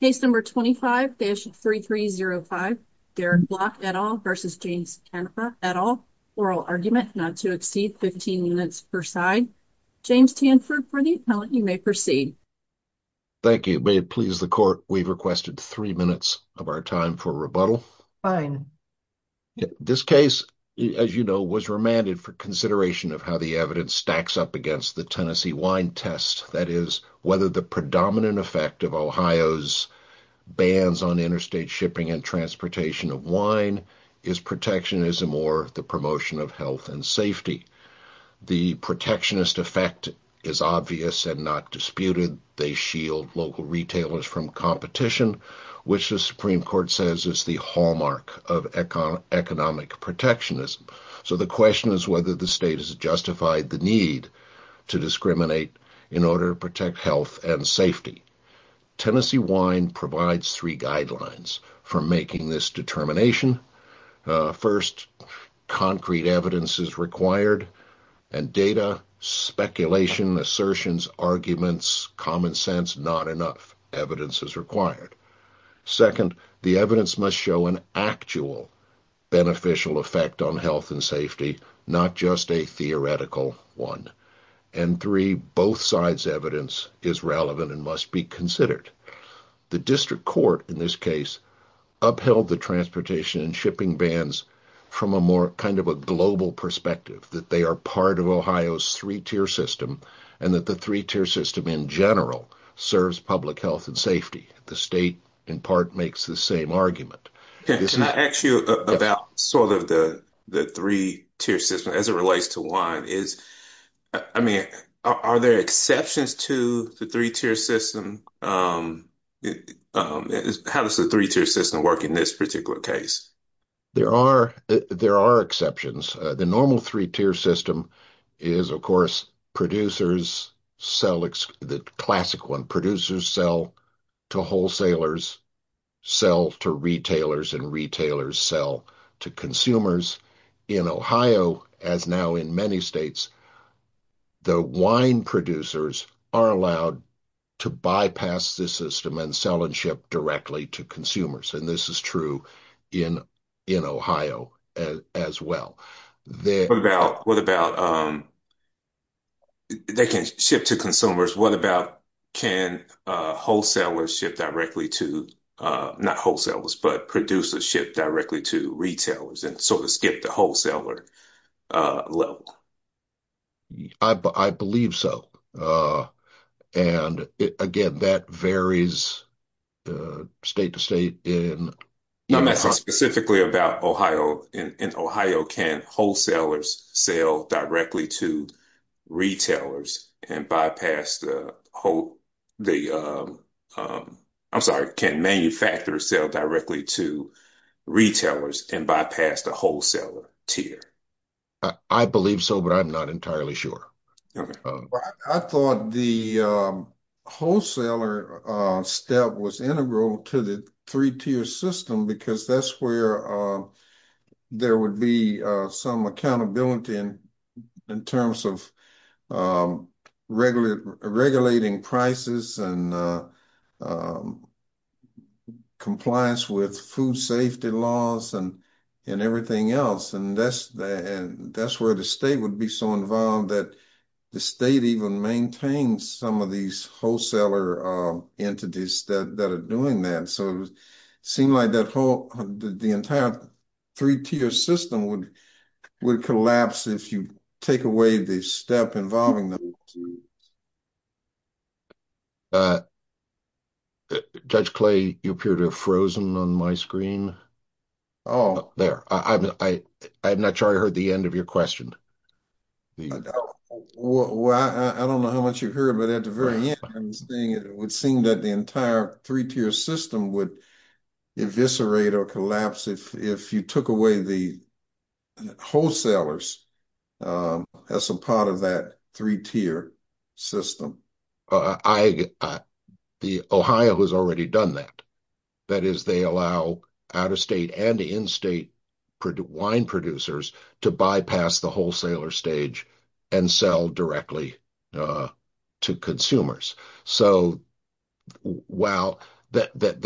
at all. Oral argument not to exceed 15 minutes per side. James Tanford, for the appellant, you may proceed. Thank you. May it please the court, we've requested three minutes of our time for rebuttal. Fine. This case, as you know, was remanded for consideration of how the evidence stacks up against the Tennessee Wine Test. That is, whether the predominant effect of Ohio's bans on interstate shipping and transportation of wine is protectionism or the promotion of health and safety. The protectionist effect is obvious and not disputed. They shield local retailers from competition, which the Supreme Court says is the hallmark of economic protectionism. So the question is whether the state has justified the need to discriminate in order to protect health and safety. Tennessee Wine provides three guidelines for making this determination. First, concrete evidence is required, and data, speculation, assertions, arguments, common sense, not enough evidence is required. Second, the evidence must show an actual beneficial effect on health and safety, not just a theoretical one. And three, both sides' evidence is relevant and must be considered. The district court in this case upheld the transportation and shipping bans from a more kind of a global perspective, that they are part of Ohio's three-tier system, and that the three-tier system in general serves public health and safety. The state, in part, makes the same argument. Can I ask you about sort of the three-tier system as it relates to wine is, I mean, are there exceptions to the three-tier system? How does the three-tier system work in this particular case? There are exceptions. The normal three-tier system is, of course, producers sell, the classic one, producers sell to wholesalers, sell to retailers, and retailers sell to consumers. In Ohio, as now in many states, the wine producers are allowed to bypass this system and sell and ship directly to consumers, and this is true in Ohio as well. What about, they can ship to consumers. What about, can wholesalers ship directly to, not wholesalers, but producers ship directly to retailers and sort of skip the wholesaler level? I believe so. And again, that varies state to state. I'm asking specifically about Ohio. In Ohio, can wholesalers sell directly to retailers and bypass the, I'm sorry, can manufacturers sell directly to retailers and bypass the wholesaler tier? I believe so, but I'm not entirely sure. Well, I thought the wholesaler step was integral to the three-tier system because that's where there would be some accountability in terms of regulating prices and compliance with food safety laws and everything else, and that's where the state would be so that the state even maintains some of these wholesaler entities that are doing that, so it seemed like that whole, the entire three-tier system would collapse if you take away the step involving the... Judge Clay, you appear to have frozen on my screen. Oh. There. I'm not sure I heard the end of your question. Well, I don't know how much you heard, but at the very end, it would seem that the entire three-tier system would eviscerate or collapse if you took away the wholesalers as a part of that three-tier system. Ohio has already done that. That is, they allow out-of-state and in-state wine producers to bypass the wholesaler stage and sell directly to consumers, so while... If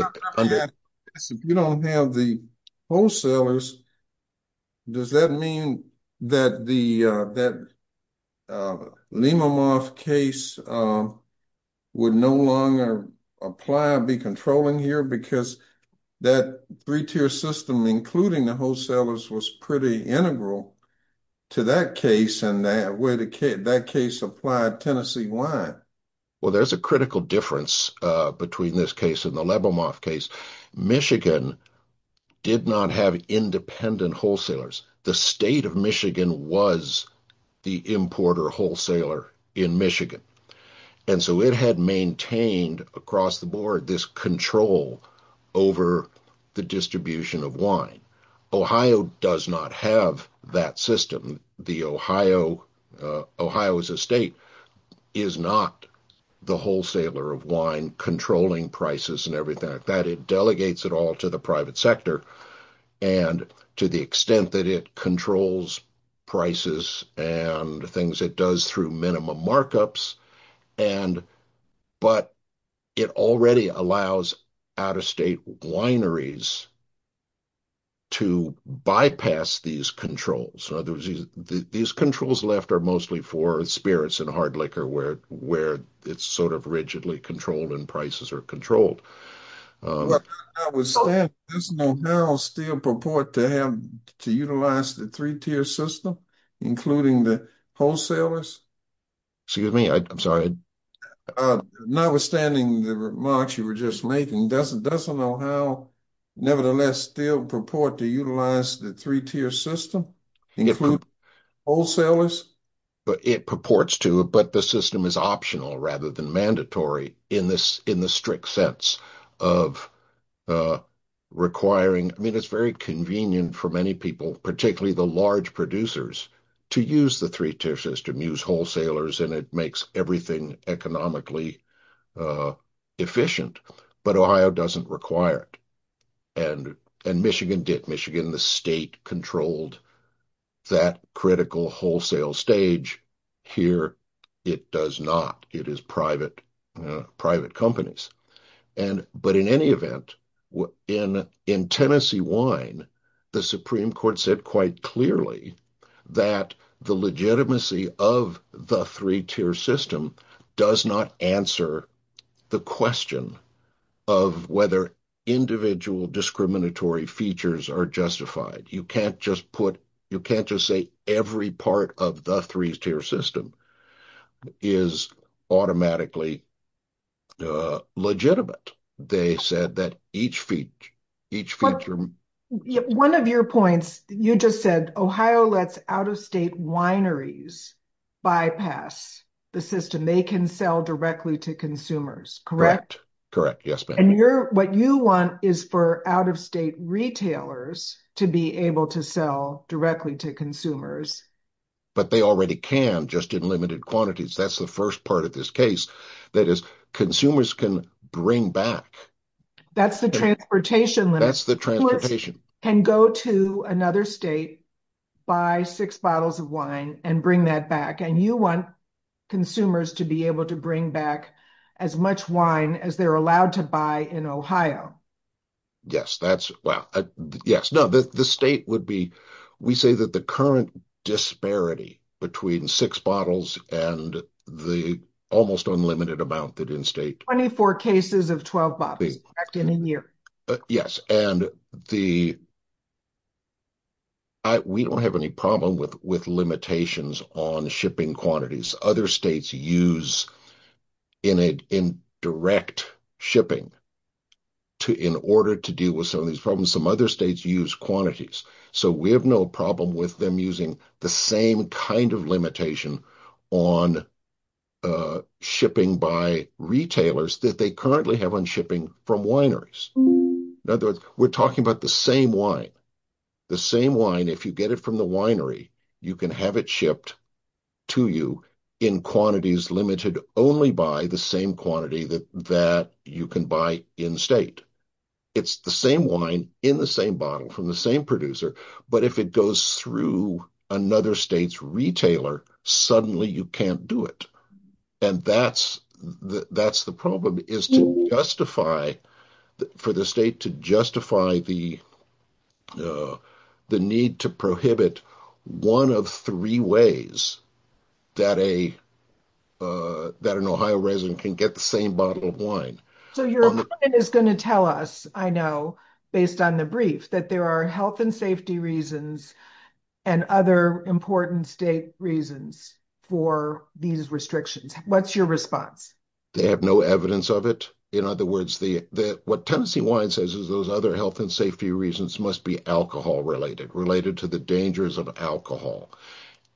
you don't have the wholesalers, does that mean that the three-tier system, including the wholesalers, was pretty integral to that case and that case applied Tennessee wine? Well, there's a critical difference between this case and the Lebomoff case. Michigan did not have independent wholesalers. The state of Michigan was the importer wholesaler in Michigan, and so it had maintained across the board this control over the distribution of wine. Ohio does not have that system. Ohio as a state is not the wholesaler of wine controlling prices and everything like that. It delegates it all to the private sector and to the extent that it controls prices and things it does through markups, but it already allows out-of-state wineries to bypass these controls. In other words, these controls left are mostly for spirits and hard liquor where it's sort of rigidly controlled and prices are controlled. Does Ohio still purport to utilize the three-tier system, including the wholesalers? Excuse me. I'm sorry. Notwithstanding the remarks you were just making, does Ohio nevertheless still purport to utilize the three-tier system, including wholesalers? It purports to, but the system is optional rather than mandatory in the strict sense of requiring... I mean, it's very convenient for many people, particularly the large producers, to use the three-tier system, use wholesalers, and it makes everything economically efficient. But Ohio doesn't require it, and Michigan did. Michigan, the state, controlled that critical wholesale stage. Here, it does not. It is private companies. But in any event, in Tennessee wine, the Supreme Court said quite clearly that the legitimacy of the three-tier system does not answer the question of whether individual discriminatory features are justified. You can't just say every part of the three-tier system is automatically legitimate. They said that each feature... One of your points, you just said Ohio lets out-of-state wineries bypass the system. They can sell directly to consumers, correct? Correct. Yes, ma'am. And what you want is for out-of-state retailers to be able to sell directly to consumers. But they already can, just in limited quantities. That's the first part of this case. That is, consumers can bring back... That's the transportation limit. That's the transportation. Who can go to another state, buy six bottles of wine, and bring that back. And you want consumers to be able to bring back as much wine as they're allowed to buy in Ohio. Yes, that's... Well, yes. No, the state would be... We say that the current disparity between six bottles and the almost unlimited amount that in-state... 24 cases of 12 bottles, correct, in a year. Yes. And the... We don't have any problem with limitations on shipping quantities. Other states use indirect shipping in order to deal with some of these problems. Some other states use quantities. So we have no problem with them using the same kind of limitation on shipping by retailers that they currently have on shipping from wineries. In other words, we're talking about the same wine. The same wine, if you get it from the winery, you can have it shipped to you in quantities limited only by the same quantity that you can buy in-state. It's the same wine in the same bottle from the same producer. But if it goes through another state's retailer, suddenly you can't do it. And that's the problem, is to justify, for the state to justify the need to prohibit one of three ways that an Ohio resident can get the bottle of wine. So your opponent is going to tell us, I know, based on the brief, that there are health and safety reasons and other important state reasons for these restrictions. What's your response? They have no evidence of it. In other words, what Tennessee Wine says is those other health and safety reasons must be alcohol-related, related to the dangers of alcohol.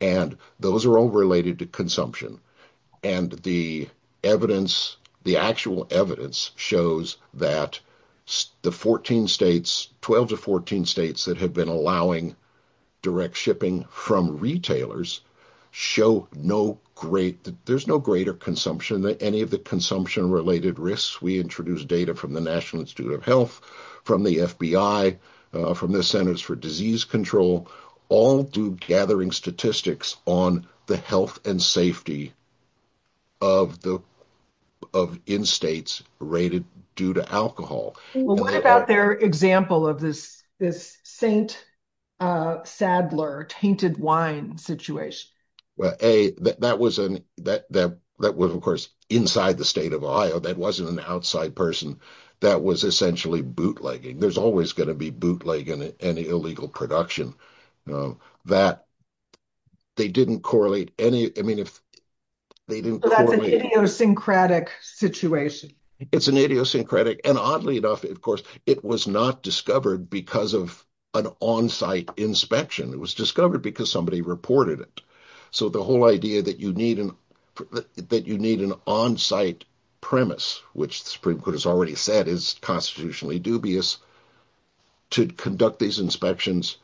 And those are related to consumption. And the evidence, the actual evidence shows that the 14 states, 12 to 14 states that have been allowing direct shipping from retailers show no greater consumption, any of the consumption-related risks. We introduced data from the National Institute of Health, from the FBI, from the Centers for Disease Control, all do gathering statistics on the health and safety of in-states rated due to alcohol. Well, what about their example of this St. Sadler tainted wine situation? Well, that was, of course, inside the state of Ohio. That was essentially bootlegging. There's always going to be bootlegging in any illegal production, that they didn't correlate any. I mean, if they didn't correlate. So that's an idiosyncratic situation. It's an idiosyncratic. And oddly enough, of course, it was not discovered because of an on-site inspection. It was discovered because somebody reported it. So the whole idea that you need an on-site premise, which the Supreme Court has already said is constitutionally dubious, to conduct these inspections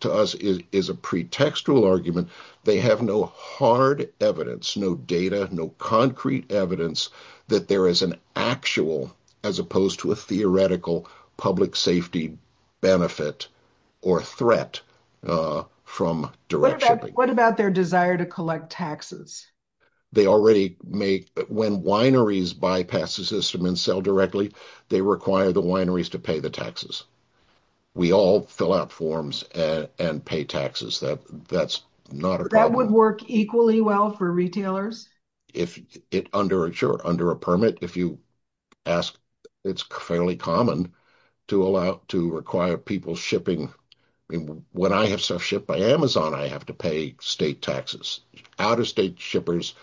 to us is a pretextual argument. They have no hard evidence, no data, no concrete evidence that there is an actual, as opposed to a theoretical, public safety benefit or threat from direct shipping. What about their desire to collect taxes? They already make, when wineries bypass the system and sell directly, they require the wineries to pay the taxes. We all fill out forms and pay taxes. That would work equally well for retailers? Sure. Under a permit, if you ask, it's fairly common to require people shipping. When I have stuff shipped by Amazon, I have to pay state taxes. Out-of-state shippers,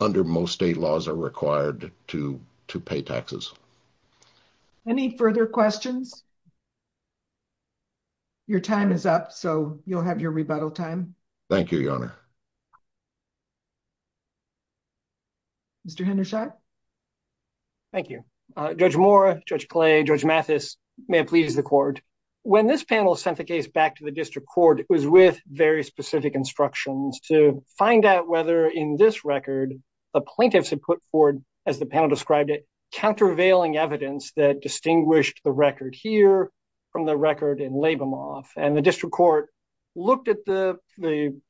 under most state laws, are required to pay taxes. Any further questions? Your time is up, so you'll have your rebuttal time. Thank you, Your Honor. Mr. Hendershot? Thank you. Judge Moore, Judge Clay, Judge Mathis, may it please the court. When this panel sent the case back to the district court, it was with very specific instructions to find out whether, in this record, the plaintiffs had put forward, as the panel described it, countervailing evidence that distinguished the record here from the record in Labimoff. The district court looked at the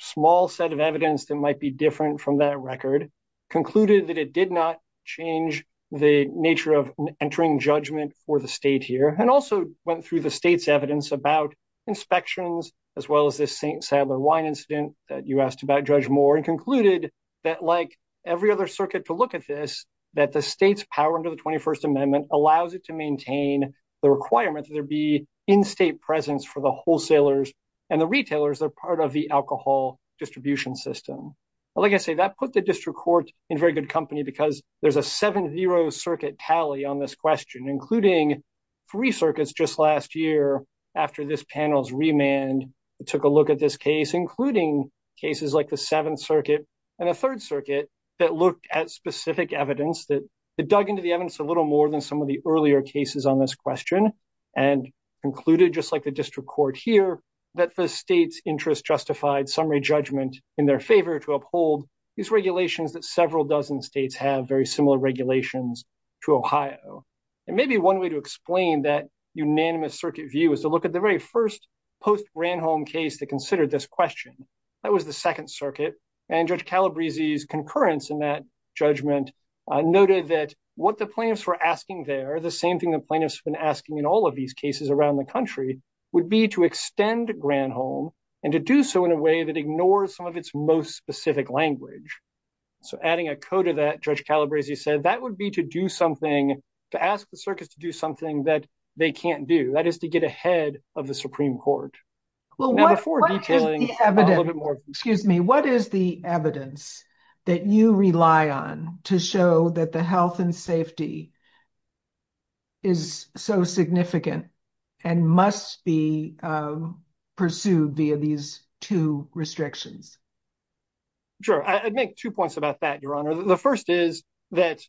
small set of evidence that might be different from that record, concluded that it did not change the nature of entering judgment for the state here, and also went through the state's evidence about inspections, as well as this St. Saddler Wine incident that you asked about, Judge Moore, and concluded that, like every other circuit to look at this, that the state's power under the 21st Amendment allows it to maintain the requirement that there be in-state presence for the wholesalers and the retailers that are part of the alcohol distribution system. Like I say, that put the court in very good company because there's a 7-0 circuit tally on this question, including three circuits just last year, after this panel's remand, that took a look at this case, including cases like the Seventh Circuit and the Third Circuit, that looked at specific evidence that dug into the evidence a little more than some of the earlier cases on this question, and concluded, just like the district court here, that the state's interest justified summary judgment in their favor to uphold these regulations that several dozen states have very similar regulations to Ohio. And maybe one way to explain that unanimous circuit view is to look at the very first post-Granholm case that considered this question. That was the Second Circuit, and Judge Calabrese's concurrence in that judgment noted that what the plaintiffs were asking there, the same thing the plaintiffs have been asking in all of these cases around the country, would be to extend Granholm, and to do so in a way that ignores some of its most specific language. So adding a code to that, Judge Calabrese said, that would be to do something, to ask the circuits to do something that they can't do, that is to get ahead of the Supreme Court. Well, what is the evidence that you rely on to show that the health and safety is so significant, and must be pursued via these two restrictions? Sure. I'd make two points about that, Your Honor. The first is that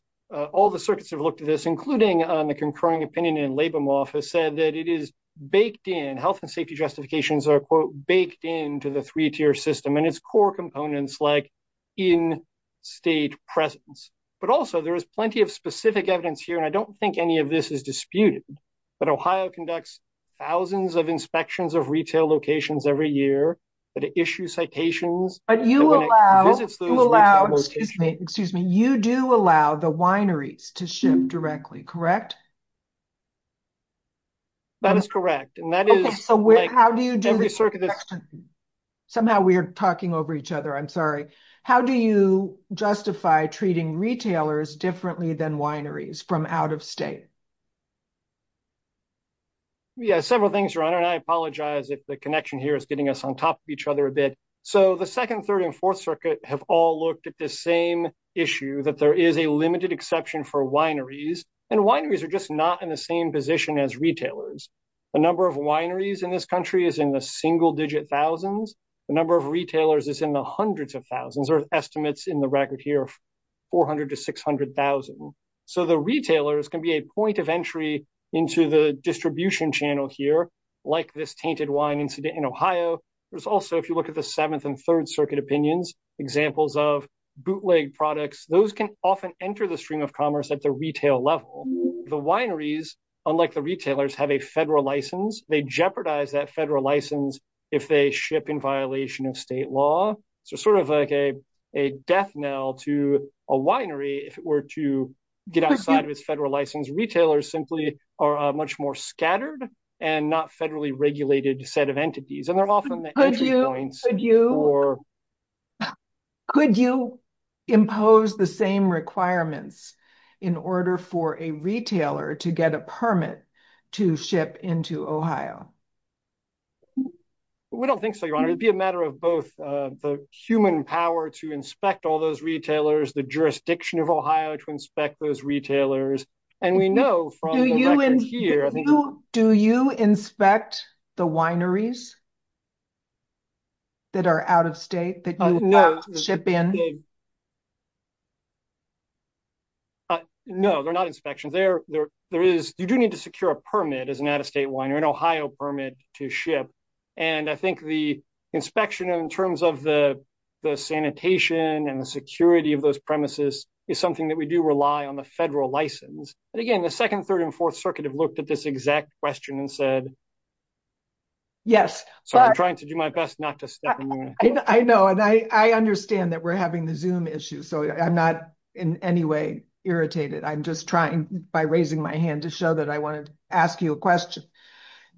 all the circuits have looked at this, including the concurring opinion in Labamoff, has said that it is baked in, health and safety justifications are, quote, baked into the three-tier system, and its core components like in-state presence. But also, there is plenty of specific evidence here, and I don't think any of this is disputed, but Ohio conducts thousands of inspections of retail locations every year, but it issues citations. But you allow, excuse me, you do allow the wineries to ship directly, correct? That is correct, and that is... Somehow we are talking over each other, I'm sorry. How do you justify treating retailers differently than wineries from out of state? Yeah, several things, Your Honor, and I apologize if the connection here is getting us on top of each other a bit. So the Second, Third, and Fourth Circuit have all looked at the same issue, that there is a limited exception for wineries, and wineries are just not in the same position as retailers. The number of wineries in this country is in the single-digit thousands. The number of retailers is in the hundreds of thousands, or estimates in the record here, 400,000 to 600,000. So the retailers can be a point of entry into the distribution channel here, like this tainted wine incident in Ohio. There's also, if you look at the Seventh and Third Circuit opinions, examples of bootleg products, those can often enter the stream of commerce at the retail level. The wineries, unlike the retailers, have a federal license. They jeopardize that federal license if they ship in violation of state law. So sort of like a death knell to a winery, if it were to get outside of its federal license. Retailers simply are a much more scattered and not federally regulated set of entities, and they're often the entry points. Could you impose the same requirements in order for a retailer to get a permit to ship into Ohio? We don't think so, Your Honor. It'd be a matter of both the human power to inspect all those retailers, the jurisdiction of Ohio to inspect those retailers, and we know from the records here. Do you inspect the wineries that are out of state that you ship in? No, they're not inspections. You do need to secure a permit as an out-of-state or an Ohio permit to ship, and I think the inspection in terms of the sanitation and the security of those premises is something that we do rely on the federal license. And again, the Second, Third, and Fourth Circuit have looked at this exact question and said, yes, so I'm trying to do my best not to step in there. I know, and I understand that we're having the Zoom issue, so I'm not in any way irritated. I'm by raising my hand to show that I wanted to ask you a question.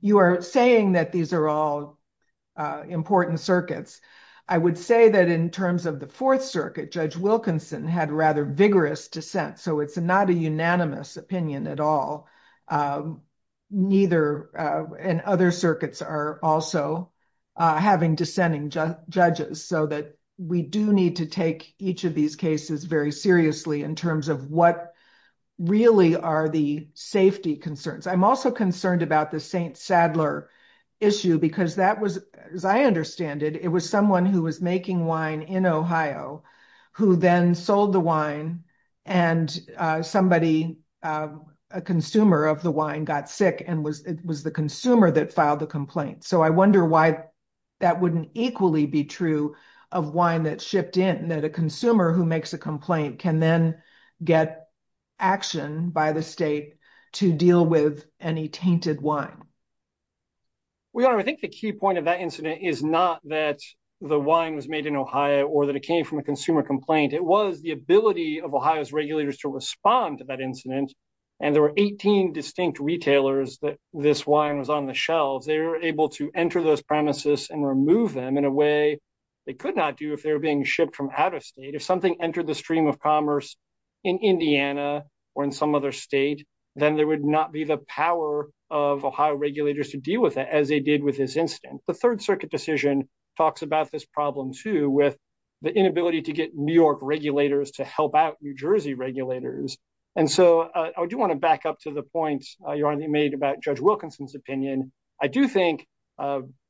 You are saying that these are all important circuits. I would say that in terms of the Fourth Circuit, Judge Wilkinson had rather vigorous dissent, so it's not a unanimous opinion at all, and other circuits are also having dissenting judges, so that we do need to take each of these cases very seriously in terms of what really are the safety concerns. I'm also concerned about the St. Sadler issue because that was, as I understand it, it was someone who was making wine in Ohio who then sold the wine, and somebody, a consumer of the wine, got sick, and it was the consumer that filed the complaint. I wonder why that wouldn't equally be true of wine that's shipped in, that a consumer who makes a complaint can then get action by the state to deal with any tainted wine. Well, Your Honor, I think the key point of that incident is not that the wine was made in Ohio or that it came from a consumer complaint. It was the ability of Ohio's regulators to respond to that incident, and there were 18 distinct retailers that this wine was on the shelves. They were able to enter those premises and remove them in a way they could not do if they were being shipped from out of state. If something entered the stream of commerce in Indiana or in some other state, then there would not be the power of Ohio regulators to deal with it as they did with this incident. The Third Circuit decision talks about this problem, too, with the inability to get New York regulators to help out New Jersey regulators, and so I do want to back up to the point Your Honor made about Judge Wilkinson's opinion. I do think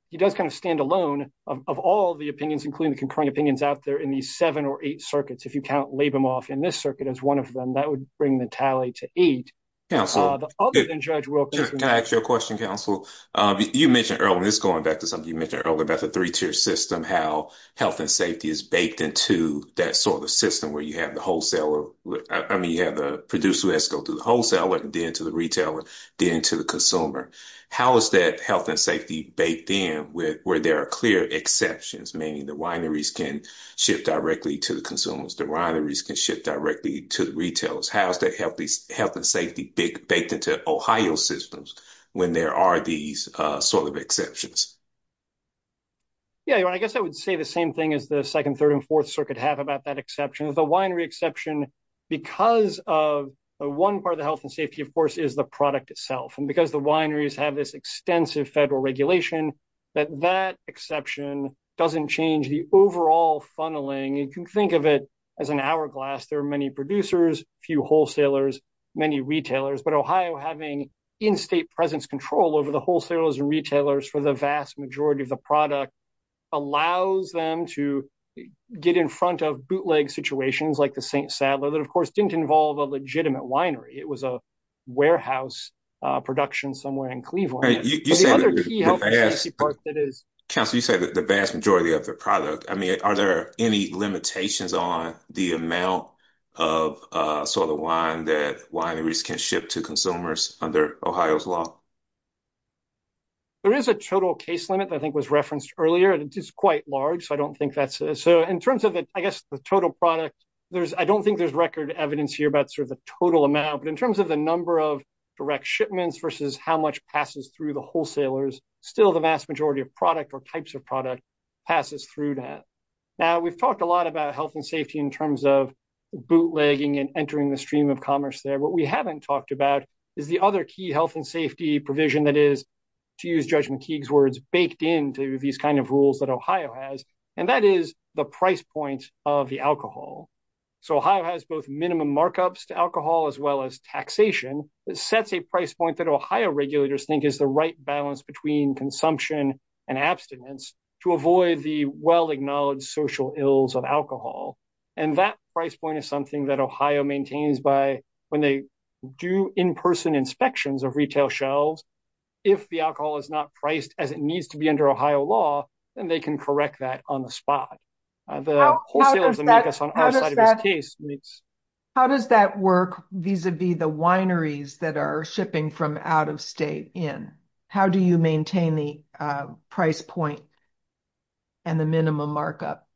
he does kind of stand alone of all the opinions, including the concurrent opinions out there in these seven or eight circuits. If you count Labamoff in this circuit as one of them, that would bring the tally to eight. Can I ask you a question, Counsel? You mentioned earlier, this is going back to something you mentioned earlier about the three-tier system, how health and safety is baked into that sort of system where you have the wholesaler, I mean, you have the producer who has to go through the retailer, then to the consumer. How is that health and safety baked in where there are clear exceptions, meaning the wineries can ship directly to the consumers, the wineries can ship directly to the retailers? How is that health and safety baked into Ohio systems when there are these sort of exceptions? Yeah, Your Honor, I guess I would say the same thing as the second, third, and fourth circuit have about that exception. The winery exception, because of one part of the health and safety, of course, is the product itself. And because the wineries have this extensive federal regulation, that that exception doesn't change the overall funneling. You can think of it as an hourglass. There are many producers, few wholesalers, many retailers, but Ohio having in-state presence control over the wholesalers and retailers for the vast majority of the product allows them to get in front of bootleg situations like the St. Sadler that, of course, didn't involve a winery. It was a warehouse production somewhere in Cleveland. Counselor, you said the vast majority of the product. I mean, are there any limitations on the amount of sort of wine that wineries can ship to consumers under Ohio's law? There is a total case limit that I think was referenced earlier, and it is quite large, so I don't think that's... So in terms of, I guess, the total product, I don't think there's record evidence here about sort of the total amount, but in terms of the number of direct shipments versus how much passes through the wholesalers, still the vast majority of product or types of product passes through that. Now, we've talked a lot about health and safety in terms of bootlegging and entering the stream of commerce there. What we haven't talked about is the other key health and safety provision that is, to use Judge McKeague's words, baked into these kind of rules that Ohio has, and that is the price point of the alcohol. So Ohio has both minimum markups to alcohol as well as taxation that sets a price point that Ohio regulators think is the right balance between consumption and abstinence to avoid the well-acknowledged social ills of alcohol. And that price point is something that Ohio maintains by when they do in-person inspections of retail shelves. If the alcohol is not priced as it is, how does that work vis-a-vis the wineries that are shipping from out of state in? How do you maintain the price point and the minimum markup?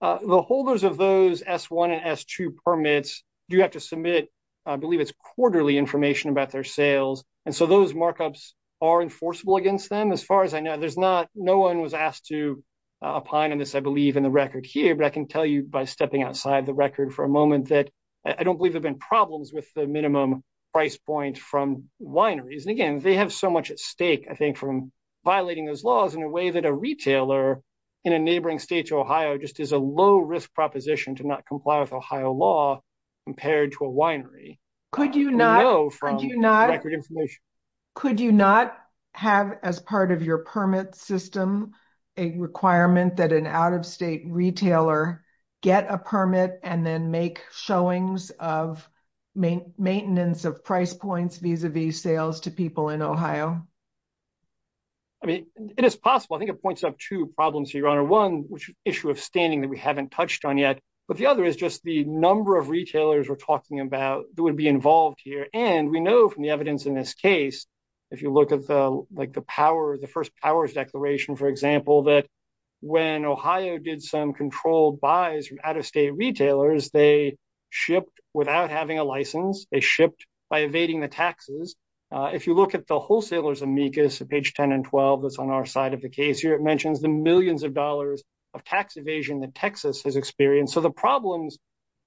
The holders of those S-1 and S-2 permits do have to submit, I believe it's quarterly information about their sales. And so those markups are enforceable against them. As far as no one was asked to opine on this, I believe in the record here, but I can tell you by stepping outside the record for a moment that I don't believe there have been problems with the minimum price point from wineries. And again, they have so much at stake, I think, from violating those laws in a way that a retailer in a neighboring state to Ohio just is a low-risk proposition to not comply with Ohio law compared to a winery. Could you not have as part of your permit system a requirement that an out-of-state retailer get a permit and then make showings of maintenance of price points vis-a-vis sales to people in Ohio? I mean, it is possible. I think it points up two problems, Your Honor. One, which issue of standing that we haven't touched on yet. But the other is just the number of retailers we're talking about that would be involved here. And we know from the evidence in this case, if you look at the first powers declaration, for example, that when Ohio did some controlled buys from out-of-state retailers, they shipped without having a license. They shipped by evading the taxes. If you look at the wholesaler's amicus, page 10 and 12, that's on our side of the case here, it mentions the millions of dollars of tax evasion that Texas has experienced. So the problems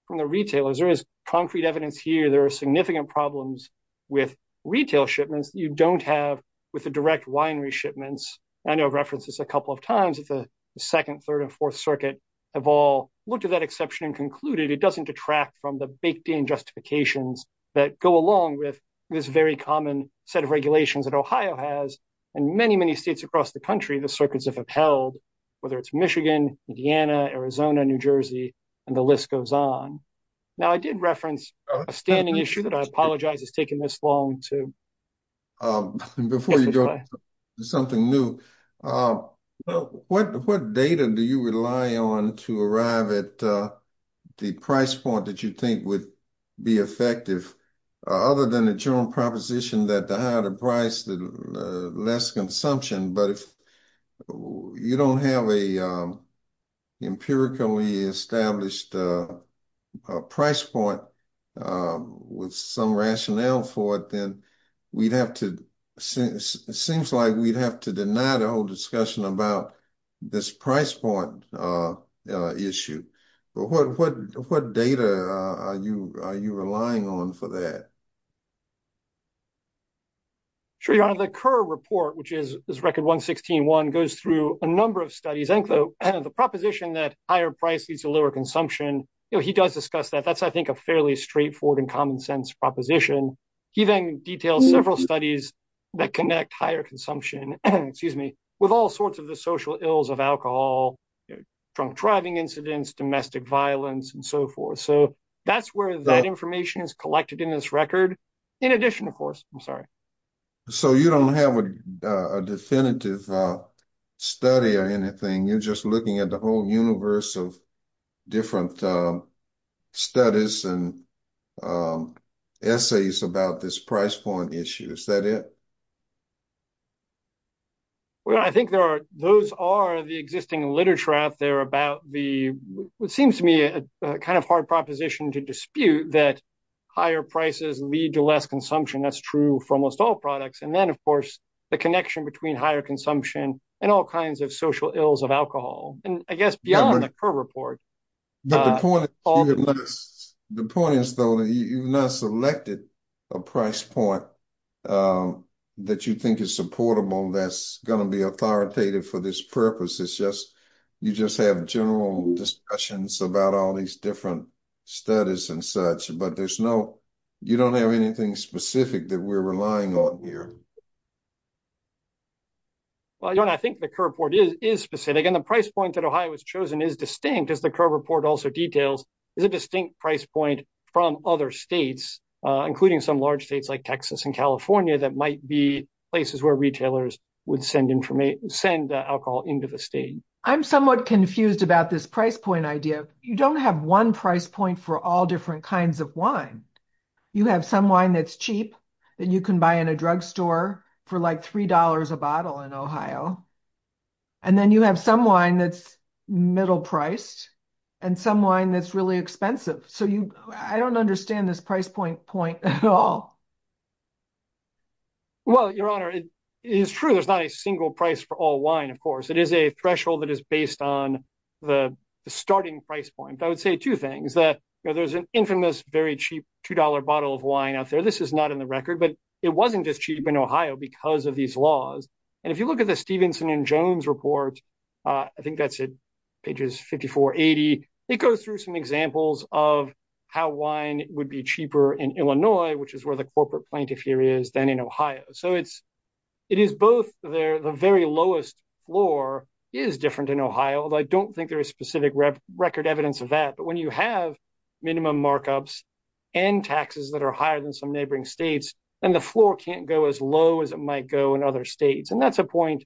from the retailers, there is concrete evidence here. There are significant problems with retail shipments that you don't have with the direct winery shipments. I know I've referenced this a couple of times. It's the second, third, and fourth circuit have all looked at that exception and concluded it doesn't detract from the baked-in justifications that go along with this very common set of regulations that Ohio has. And many, many states across the country, the circuits have upheld, whether it's Michigan, Indiana, Arizona, New Jersey, and the list goes on. Now, I did reference a standing issue that I apologize has taken this long to... Before you go to something new, what data do you rely on to arrive at the price point that you think would be effective, other than the general proposition that the higher the price, the less consumption. But if you don't have an empirically established price point with some rationale for it, then it seems like we'd have to deny the whole discussion about this price point issue. But what data are you relying on for that? Sure, Your Honor. The Kerr Report, which is Record 116.1, goes through a number of studies. The proposition that higher price leads to lower consumption, he does discuss that. That's, I think, a fairly straightforward and common-sense proposition. He then details several studies that connect higher consumption with all sorts of the social ills of alcohol, drunk driving incidents, domestic violence, and so forth. So that's where that information is collected in this record, in addition, of course. I'm sorry. So you don't have a definitive study or anything. You're just looking at the whole universe of different studies and essays about this price point issue. Is that it? Well, I think those are the existing literature out there about the... It seems to me a kind of hard proposition to dispute that higher prices lead to less consumption. That's true for almost all products. And then, of course, the connection between higher consumption and all kinds of social ills of alcohol. And I guess beyond the Kerr Report... The point is, though, that you've not selected a price point that you think is supportable that's authoritative for this purpose. You just have general discussions about all these different studies and such. But you don't have anything specific that we're relying on here. Well, I think the Kerr Report is specific. And the price point that Ohio has chosen is distinct, as the Kerr Report also details, is a distinct price point from other states, including some large states like Texas and California, that might be where retailers would send alcohol into the state. I'm somewhat confused about this price point idea. You don't have one price point for all different kinds of wine. You have some wine that's cheap that you can buy in a drugstore for like $3 a bottle in Ohio. And then you have some wine that's middle priced, and some wine that's really expensive. So I don't understand this price point at all. Well, Your Honor, it is true there's not a single price for all wine, of course. It is a threshold that is based on the starting price point. I would say two things, that there's an infamous, very cheap $2 bottle of wine out there. This is not in the record, but it wasn't just cheap in Ohio because of these laws. And if you look at the Stevenson and Jones Report, I think that's pages 54-80, it goes through some examples of how wine would be cheaper in Illinois, which is where the corporate plaintiff here is, than in Ohio. So it is both there. The very lowest floor is different in Ohio, although I don't think there is specific record evidence of that. But when you have minimum markups and taxes that are higher than some neighboring states, then the floor can't go as low as it might go in other states. And that's a point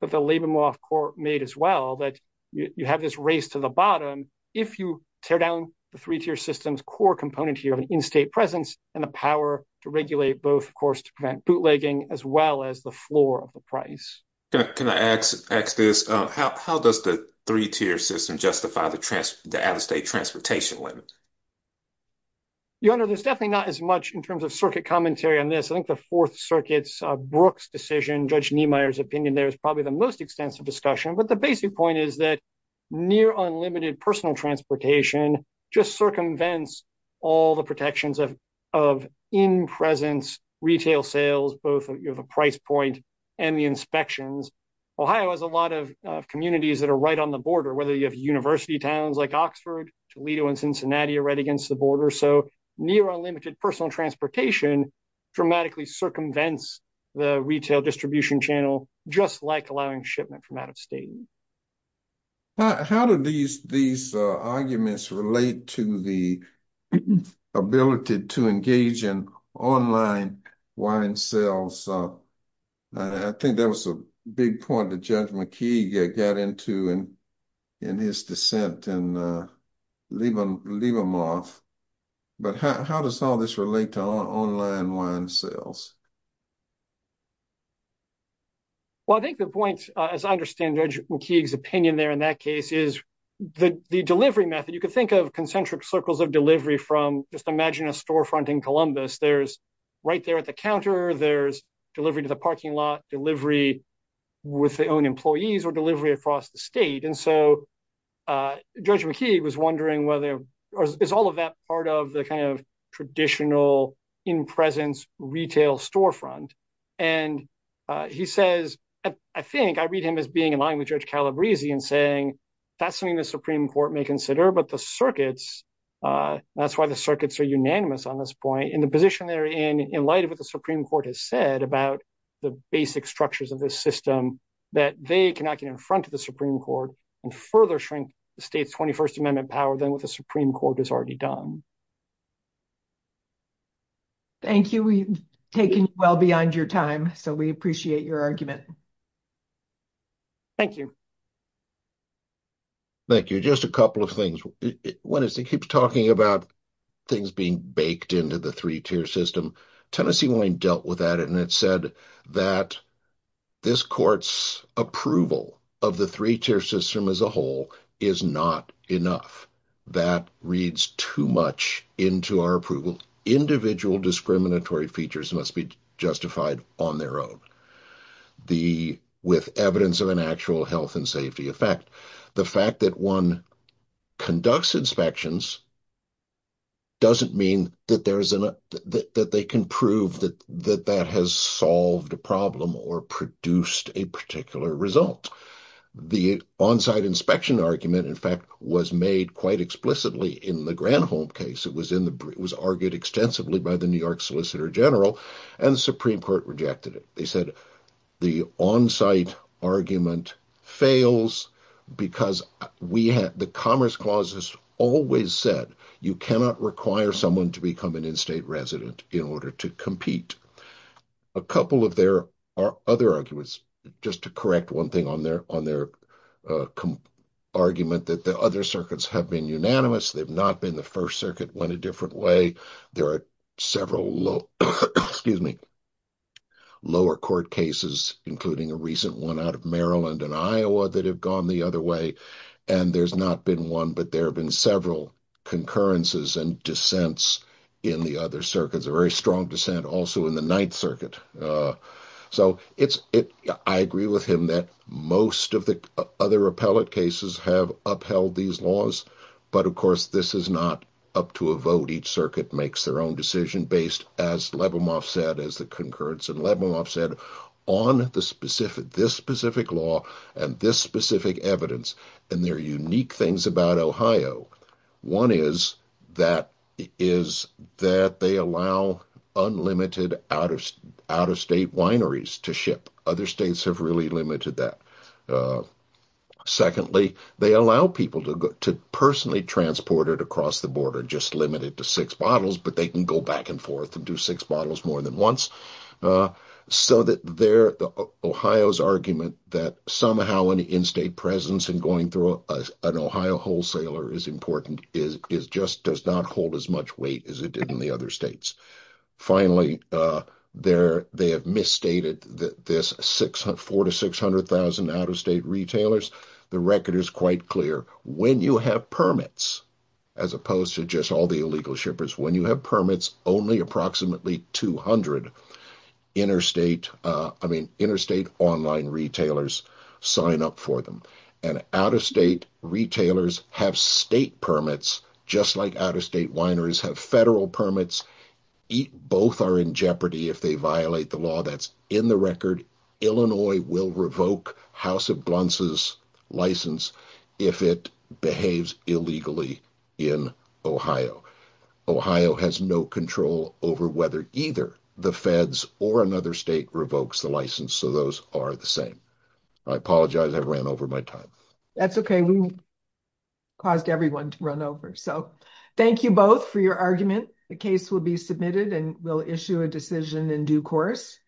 that the Leibomoff Court made as well, that you have this race to the bottom. If you tear down the three-tier system's core component here of an in-state presence and the power to regulate both, of course, to prevent bootlegging, as well as the floor of the price. Can I ask this? How does the three-tier system justify the out-of-state transportation limit? Your Honor, there's definitely not as much in terms of circuit commentary on this. I think the Fourth Circuit's Brooks decision, Judge Niemeyer's opinion there is probably the most extensive discussion. But the basic point is that near unlimited personal transportation just circumvents all the protections of in-presence retail sales, both of the price point and the inspections. Ohio has a lot of communities that are right on the border, whether you have university towns like Oxford, Toledo, and Cincinnati are right against the border. So near unlimited personal transportation dramatically circumvents the retail distribution channel, just like allowing shipment from out of state. How do these arguments relate to the ability to engage in online wine sales? I think that was a big point that Judge McKee got into in his dissent and leave them off. But how does all this relate to online wine sales? Well, I think the point, as I understand Judge McKee's opinion there in that case, is the delivery method. You could think of concentric circles of delivery from, just imagine a storefront in Columbus. There's right there at the counter, there's delivery to the parking lot, delivery with their own employees, or delivery across the state. And so Judge McKee was wondering whether, is all of that part of the kind of traditional in-presence retail sales storefront? And he says, I think, I read him as being in line with Judge Calabresi and saying, that's something the Supreme Court may consider, but the circuits, that's why the circuits are unanimous on this point, in the position they're in, in light of what the Supreme Court has said about the basic structures of this system, that they cannot get in front of the Supreme Court and further shrink the state's 21st Amendment power than what the Supreme Court has already done. Thank you. We've taken well beyond your time, so we appreciate your argument. Thank you. Thank you. Just a couple of things. One is, he keeps talking about things being baked into the three-tier system. Tennessee only dealt with that, and it said that this court's approval of the system as a whole is not enough. That reads too much into our approval. Individual discriminatory features must be justified on their own, with evidence of an actual health and safety effect. The fact that one conducts inspections doesn't mean that they can prove that that has solved a problem or produced a particular result. The on-site inspection argument, in fact, was made quite explicitly in the Granholm case. It was argued extensively by the New York Solicitor General, and the Supreme Court rejected it. They said the on-site argument fails because the Commerce Clause has always said you cannot require someone to become an in-state resident in order to compete. A couple of their other arguments, just to correct one thing on their argument, that the other circuits have been unanimous, they've not been the First Circuit, went a different way. There are several lower court cases, including a recent one out of Maryland and Iowa, that have gone the other way. There's not been one, but there have been several concurrences and dissents in the other circuits, a very strong dissent also in the Ninth Circuit. I agree with him that most of the other appellate cases have upheld these laws, but of course, this is not up to a vote. Each circuit makes their own decision based, as Lebomoff said, as the concurrence in Lebomoff said, on this specific law and this specific argument. One is that they allow unlimited out-of-state wineries to ship. Other states have really limited that. Secondly, they allow people to personally transport it across the border, just limited to six bottles, but they can go back and forth and do six bottles more than once. So, Ohio's argument that somehow an in-state presence and going through an Ohio wholesaler is important just does not hold as much weight as it did in the other states. Finally, they have misstated this four to six hundred thousand out-of-state retailers. The record is quite clear. When you have permits, as opposed to just all the illegal shippers, when you have permits, only approximately 200 interstate online retailers sign up for them, and out-of-state retailers have state permits, just like out-of-state wineries have federal permits. Both are in jeopardy if they violate the law. That's in the record. Illinois will revoke House of Blunts' license if it behaves illegally in Ohio. Ohio has no control over whether either the feds or another state revokes the license, so those are the same. I apologize. I ran over my time. That's okay. We caused everyone to run over, so thank you both for your argument. The case will be submitted and we'll issue a decision in due course.